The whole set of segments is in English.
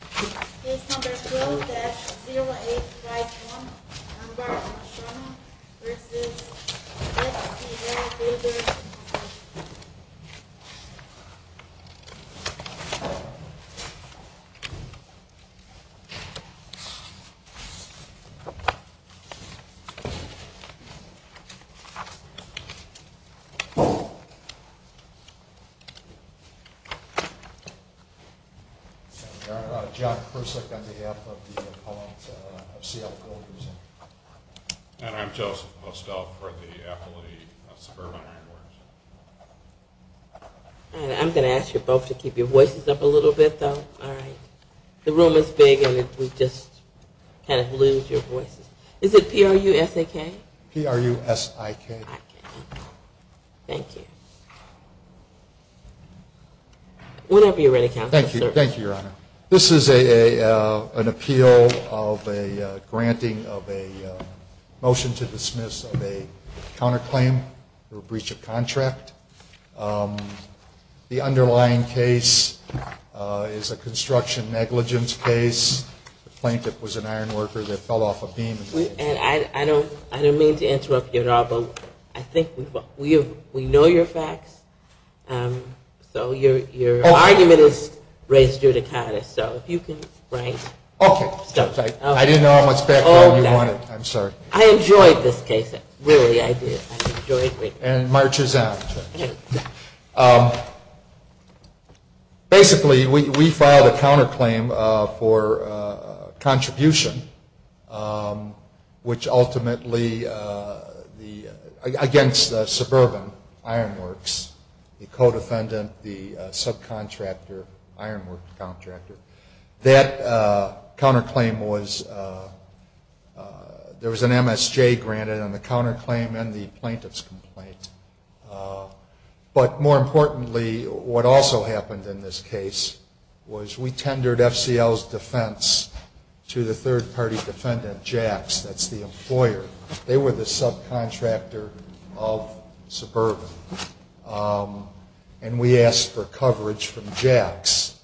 Case No. 12-0851, Armbar, Oshana v. FCL Builders, Inc. And I'm Joseph Hostoff for the FLE Suburban Ironworks. And I'm going to ask you both to keep your voices up a little bit, though. All right. The room is big, and we just kind of lose your voices. Is it P-R-U-S-A-K? P-R-U-S-I-K. I see. Thank you. Whenever you're ready, Counselor. Thank you. Thank you, Your Honor. This is an appeal of a granting of a motion to dismiss of a counterclaim or breach of contract. The underlying case is a construction negligence case. The plaintiff was an ironworker that fell off a beam. And I don't mean to interrupt you at all, but I think we know your facts. So your argument is raised judicatis, so if you can rank. Okay. I didn't know how much background you wanted. I'm sorry. I enjoyed this case. Really, I did. I enjoyed it. And it marches on. Basically, we filed a counterclaim for contribution, which ultimately, against the suburban ironworks, the co-defendant, the subcontractor, ironworks contractor. That counterclaim was, there was an MSJ granted on the counterclaim and the plaintiff's complaint. But more importantly, what also happened in this case was we tendered FCL's defense to the third party defendant, Jax, that's the employer. They were the subcontractor of suburban. And we asked for coverage from Jax.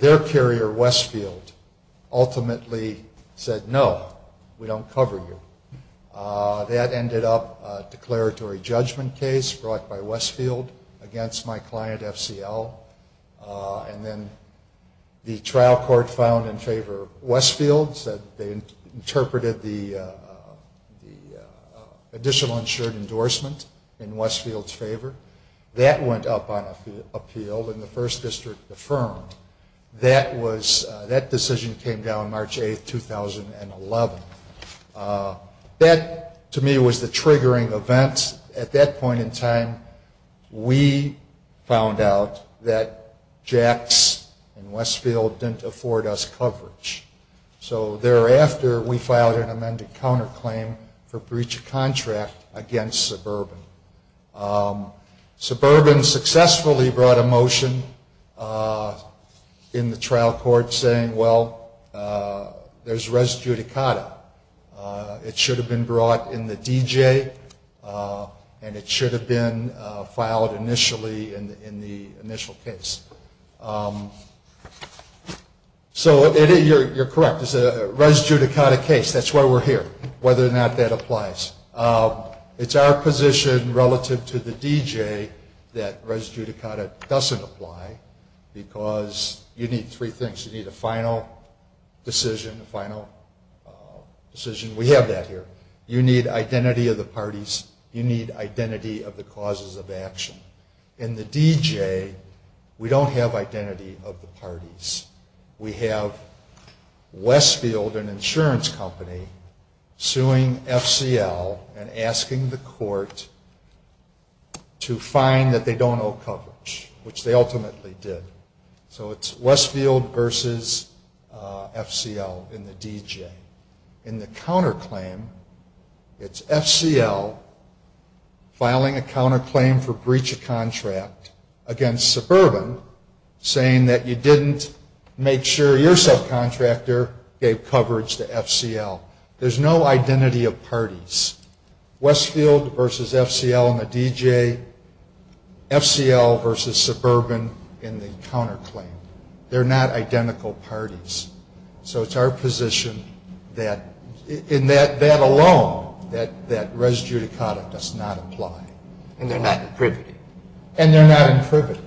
Their carrier, Westfield, ultimately said, no, we don't cover you. That ended up a declaratory judgment case brought by Westfield against my client, FCL. And then the trial court filed in favor of Westfield. They interpreted the additional insured endorsement in Westfield's favor. That went up on appeal and the first district affirmed. That decision came down March 8, 2011. That, to me, was the triggering event. At that point in time, we found out that Jax and Westfield didn't afford us coverage. So thereafter, we filed an amended counterclaim for breach of contract against suburban. Suburban successfully brought a motion in the trial court saying, well, there's res judicata. It should have been brought in the DJ and it should have been filed initially in the initial case. So you're correct. It's a res judicata case. That's why we're here, whether or not that applies. It's our position relative to the DJ that res judicata doesn't apply because you need three things. You need a final decision, a final decision. We have that here. You need identity of the parties. You need identity of the causes of action. In the DJ, we don't have identity of the parties. We have Westfield, an insurance company, suing FCL and asking the court to fine that they don't owe coverage, which they ultimately did. So it's Westfield versus FCL in the DJ. In the counterclaim, it's FCL filing a counterclaim for breach of contract against suburban saying that you didn't make sure your subcontractor gave coverage to FCL. There's no identity of parties. Westfield versus FCL in the DJ, FCL versus suburban in the counterclaim. They're not identical parties. So it's our position that in that alone that res judicata does not apply. And they're not in privity. And they're not in privity.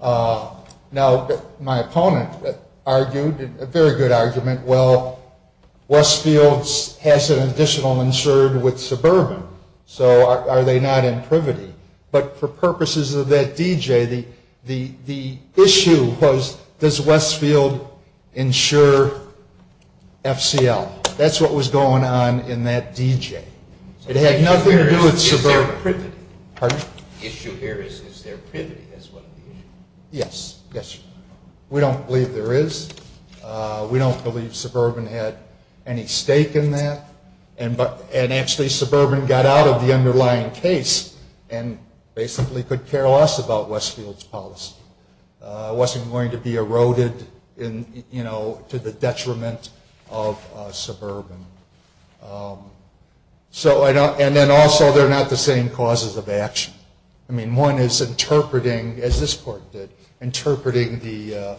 Now, my opponent argued a very good argument. Well, Westfield has an additional insured with suburban. So are they not in privity? But for purposes of that DJ, the issue was does Westfield insure FCL? That's what was going on in that DJ. It had nothing to do with suburban. The issue here is, is there privity as one of the issues? Yes, yes. We don't believe there is. We don't believe suburban had any stake in that. And actually, suburban got out of the underlying case and basically could care less about Westfield's policy. It wasn't going to be eroded to the detriment of suburban. And then also, they're not the same causes of action. I mean, one is interpreting, as this court did, interpreting the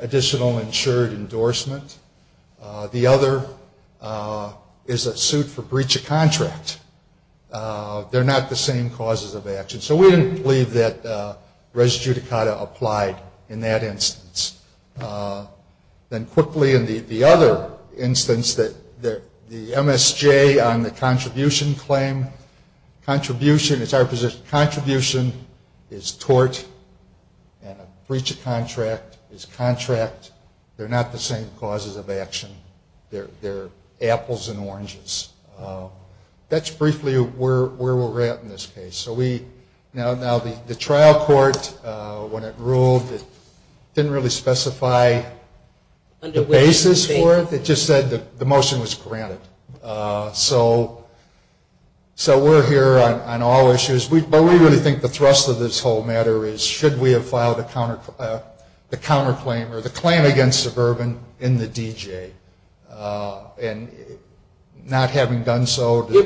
additional insured endorsement. The other is a suit for breach of contract. They're not the same causes of action. So we didn't believe that res judicata applied in that instance. Then quickly in the other instance, the MSJ on the contribution claim. Contribution is our position. Contribution is tort and a breach of contract is contract. They're not the same causes of action. They're apples and oranges. That's briefly where we're at in this case. Now, the trial court, when it ruled, didn't really specify the basis for it. It just said the motion was granted. So we're here on all issues. But we really think the thrust of this whole matter is should we have filed the counterclaim or the claim against suburban in the D.J. And not having done so. You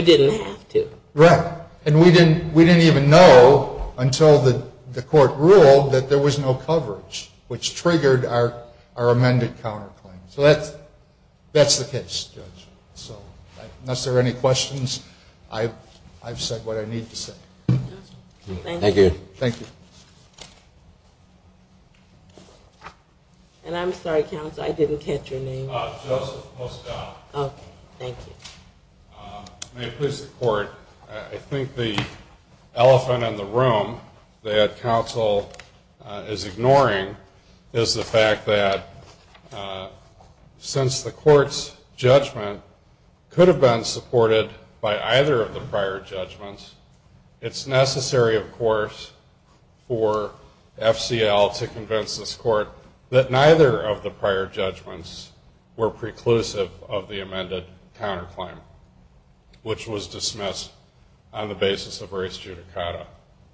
didn't have to. Right. And we didn't even know until the court ruled that there was no coverage, which triggered our amended counterclaim. So that's the case, Judge. So unless there are any questions, I've said what I need to say. Thank you. Thank you. And I'm sorry, counsel, I didn't catch your name. Joseph Mostow. Okay. Thank you. May it please the court, I think the elephant in the room that counsel is ignoring is the fact that since the court's judgment could have been supported by either of the prior judgments, it's necessary, of course, for FCL to convince this court that neither of the prior judgments were preclusive of the amended counterclaim, which was dismissed on the basis of race judicata.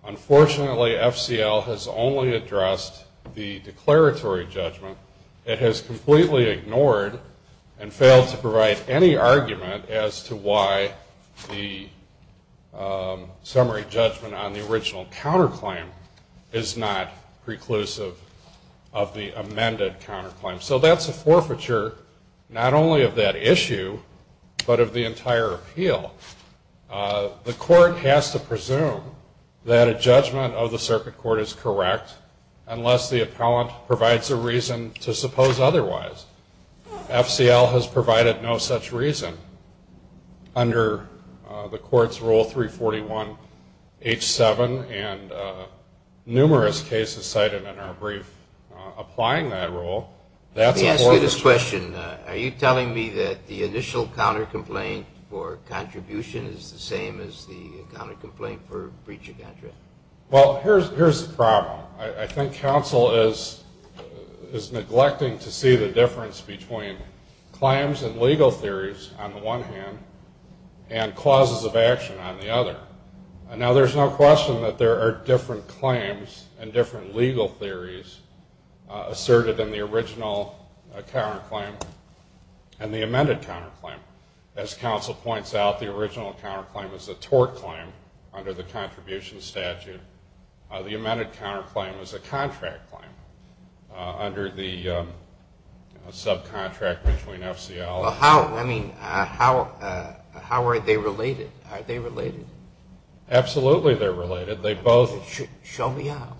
Unfortunately, FCL has only addressed the declaratory judgment. It has completely ignored and failed to provide any argument as to why the summary judgment on the original counterclaim is not preclusive of the amended counterclaim. So that's a forfeiture not only of that issue but of the entire appeal. The court has to presume that a judgment of the circuit court is correct unless the appellant provides a reason to suppose otherwise. FCL has provided no such reason under the court's Rule 341H7, and numerous cases cited in our brief applying that rule. Let me ask you this question. Are you telling me that the initial counterclaim for contribution is the same as the counterclaim for breach of contract? Well, here's the problem. I think counsel is neglecting to see the difference between claims and legal theories on the one hand and clauses of action on the other. Now, there's no question that there are different claims and different legal theories asserted in the original counterclaim and the amended counterclaim. As counsel points out, the original counterclaim is a tort claim under the contribution statute. The amended counterclaim is a contract claim under the subcontract between FCL. Well, how are they related? Are they related? Absolutely they're related. Show me how.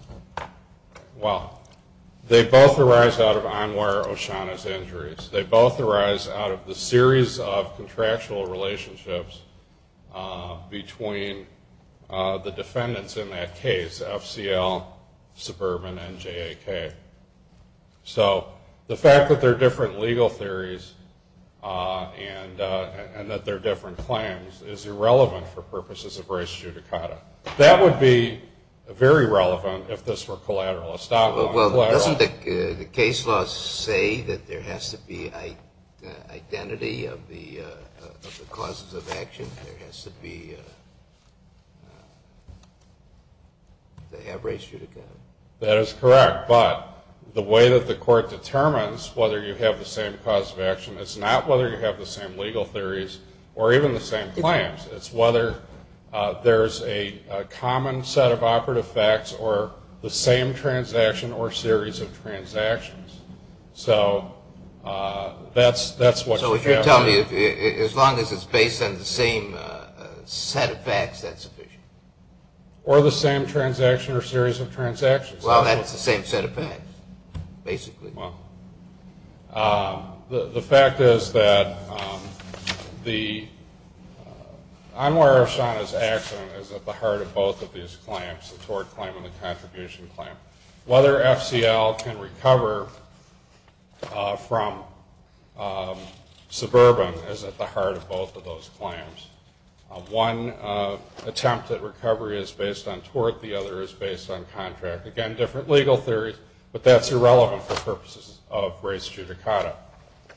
Well, they both arise out of Anwar Oshana's injuries. They both arise out of the series of contractual relationships between the defendants in that case, FCL, Suburban, and JAK. So the fact that there are different legal theories and that there are different claims is irrelevant for purposes of race judicata. That would be very relevant if this were collateral. Doesn't the case law say that there has to be identity of the clauses of action? There has to be... they have race judicata. That is correct. But the way that the court determines whether you have the same clause of action, it's not whether you have the same legal theories or even the same claims. It's whether there's a common set of operative facts or the same transaction or series of transactions. So that's what you have to... So if you're telling me as long as it's based on the same set of facts, that's sufficient? Or the same transaction or series of transactions. Well, that's the same set of facts, basically. Well, the fact is that the... Anwar Oshana's accident is at the heart of both of these claims, the tort claim and the contribution claim. Whether FCL can recover from Suburban is at the heart of both of those claims. One attempt at recovery is based on tort. The other is based on contract. Again, different legal theories, but that's irrelevant for purposes of race judicata.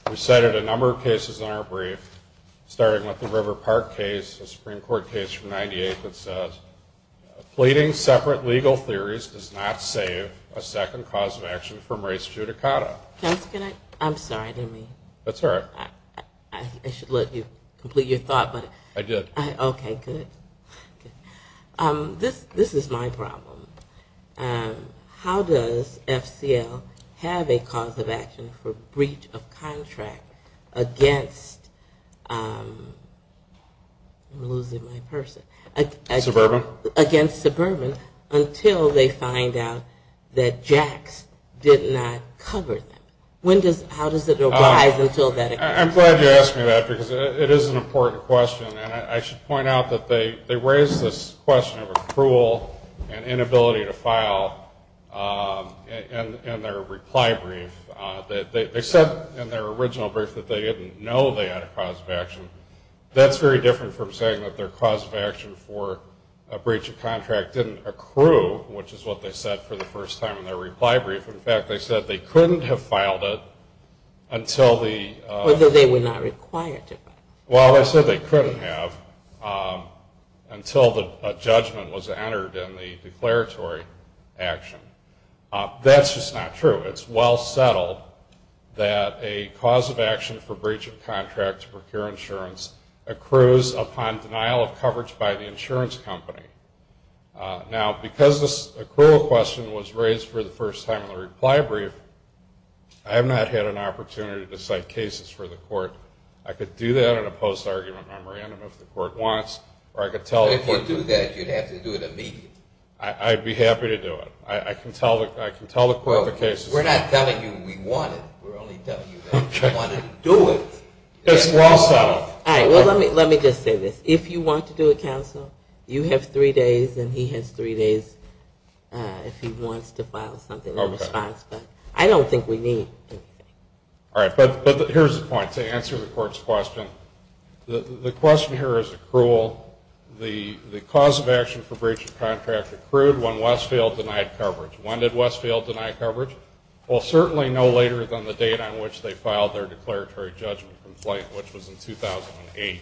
We cited a number of cases in our brief, starting with the River Park case, a Supreme Court case from 1998 that says, pleading separate legal theories does not save a second clause of action from race judicata. Counselor, can I... I'm sorry, I didn't mean... That's all right. I should let you complete your thought, but... I did. Okay, good. This is my problem. How does FCL have a cause of action for breach of contract against... I'm losing my person. Suburban? Against Suburban until they find out that Jax did not cover them. When does... How does it arise until that occurs? I'm glad you asked me that because it is an important question, and I should point out that they raised this question of accrual and inability to file in their reply brief. They said in their original brief that they didn't know they had a cause of action. That's very different from saying that their cause of action for a breach of contract didn't accrue, which is what they said for the first time in their reply brief. In fact, they said they couldn't have filed it until the... Or that they were not required to. Well, they said they couldn't have until a judgment was entered in the declaratory action. That's just not true. It's well settled that a cause of action for breach of contract to procure insurance accrues upon denial of coverage by the insurance company. Now, because this accrual question was raised for the first time in the reply brief, I have not had an opportunity to cite cases for the court. I could do that in a post-argument memorandum if the court wants, or I could tell... If you do that, you'd have to do it immediately. I'd be happy to do it. I can tell the court the cases. We're not telling you we want it. We're only telling you that we want to do it. It's well settled. All right. Well, let me just say this. If you want to do it, counsel, you have three days, and he has three days if he wants to file something in response. I don't think we need to. All right. But here's the point. To answer the court's question, the question here is accrual. The cause of action for breach of contract accrued when Westfield denied coverage. When did Westfield deny coverage? Well, certainly no later than the date on which they filed their declaratory judgment complaint, which was in 2008.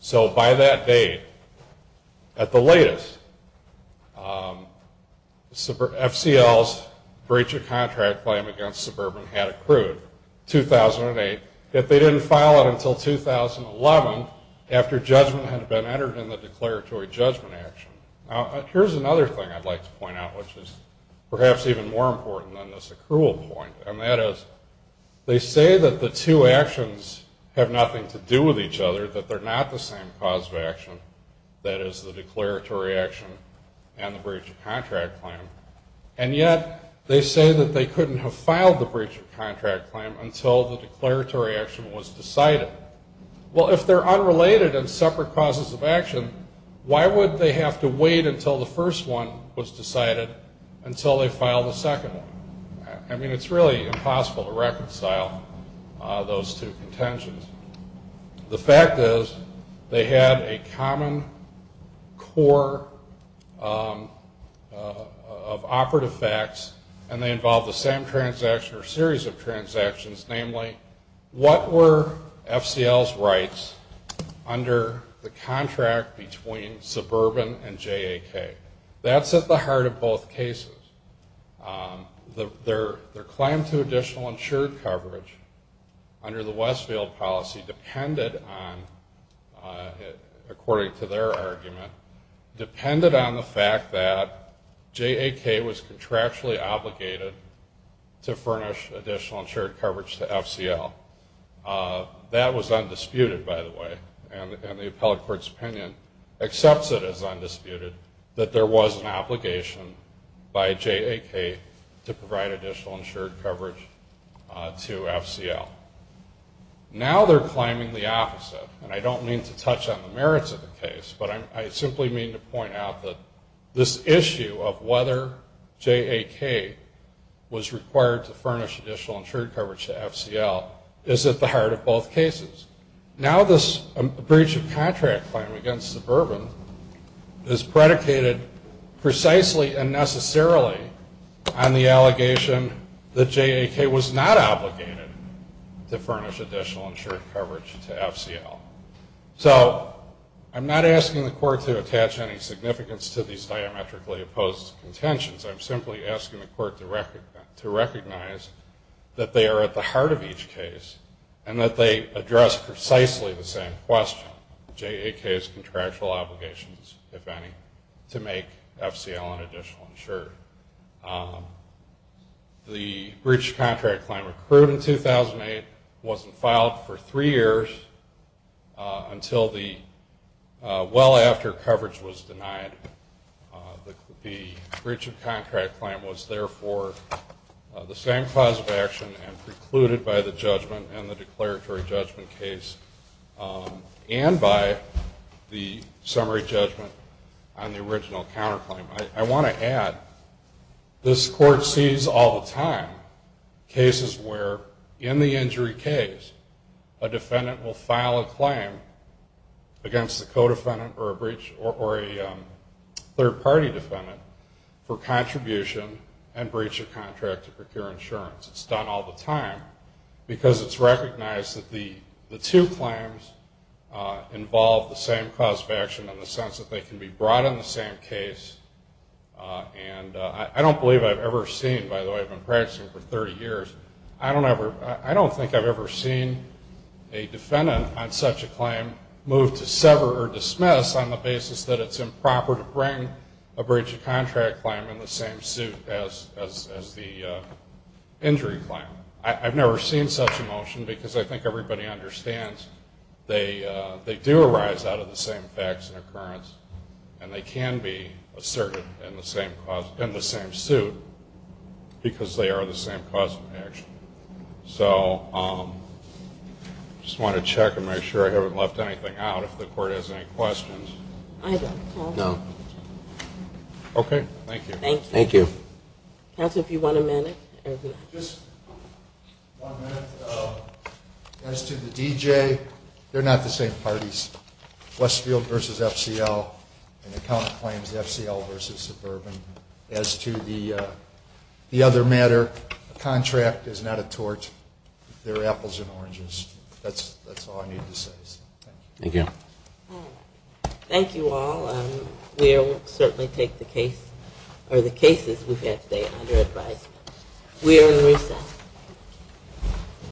So by that date, at the latest, FCL's breach of contract claim against Suburban had accrued, 2008, yet they didn't file it until 2011, after judgment had been entered in the declaratory judgment action. Now, here's another thing I'd like to point out, which is perhaps even more important than this accrual point, and that is they say that the two actions have nothing to do with each other, that they're not the same cause of action, that is the declaratory action and the breach of contract claim, and yet they say that they couldn't have filed the breach of contract claim until the declaratory action was decided. Well, if they're unrelated and separate causes of action, why would they have to wait until the first one was decided until they filed the second one? I mean, it's really impossible to reconcile those two contentions. The fact is they had a common core of operative facts, and they involved the same transaction or series of transactions, namely, what were FCL's rights under the contract between Suburban and JAK? That's at the heart of both cases. Their claim to additional insured coverage under the Westfield policy depended on, according to their argument, depended on the fact that JAK was contractually obligated to furnish additional insured coverage to FCL. That was undisputed, by the way, and the appellate court's opinion accepts it as undisputed that there was an obligation by JAK to provide additional insured coverage to FCL. Now they're climbing the opposite, and I don't mean to touch on the merits of the case, but I simply mean to point out that this issue of whether JAK was required to furnish additional insured coverage to FCL is at the heart of both cases. Now this breach of contract claim against Suburban is predicated precisely and necessarily on the allegation that JAK was not obligated to furnish additional insured coverage to FCL. So I'm not asking the court to attach any significance to these diametrically opposed contentions. I'm simply asking the court to recognize that they are at the heart of each case and that they address precisely the same question, JAK's contractual obligations, if any, to make FCL an additional insurer. The breach of contract claim accrued in 2008 wasn't filed for three years until well after coverage was denied. The breach of contract claim was, therefore, the same cause of action and precluded by the judgment in the declaratory judgment case and by the summary judgment on the original counterclaim. I want to add this court sees all the time cases where in the injury case a defendant will file a claim against the co-defendant or a third-party defendant for contribution and breach of contract to procure insurance. It's done all the time because it's recognized that the two claims involve the same cause of action in the sense that they can be brought in the same case. And I don't believe I've ever seen, by the way, I've been practicing for 30 years, I don't think I've ever seen a defendant on such a claim move to sever or dismiss on the basis that it's improper to bring a breach of contract claim in the same suit as the injury claim. I've never seen such a motion because I think everybody understands they do arise out of the same facts and occurrence and they can be asserted in the same suit because they are the same cause of action. So I just want to check and make sure I haven't left anything out if the court has any questions. I don't. No. Okay. Thank you. Thank you. Counsel, if you want a minute. Just one minute. As to the DJ, they're not the same parties. Westfield versus FCL and the count claims FCL versus suburban. As to the other matter, the contract is not a tort. They're apples and oranges. That's all I need to say. Thank you. Thank you all. We'll certainly take the case or the cases we've had today under advisement. We are in recess.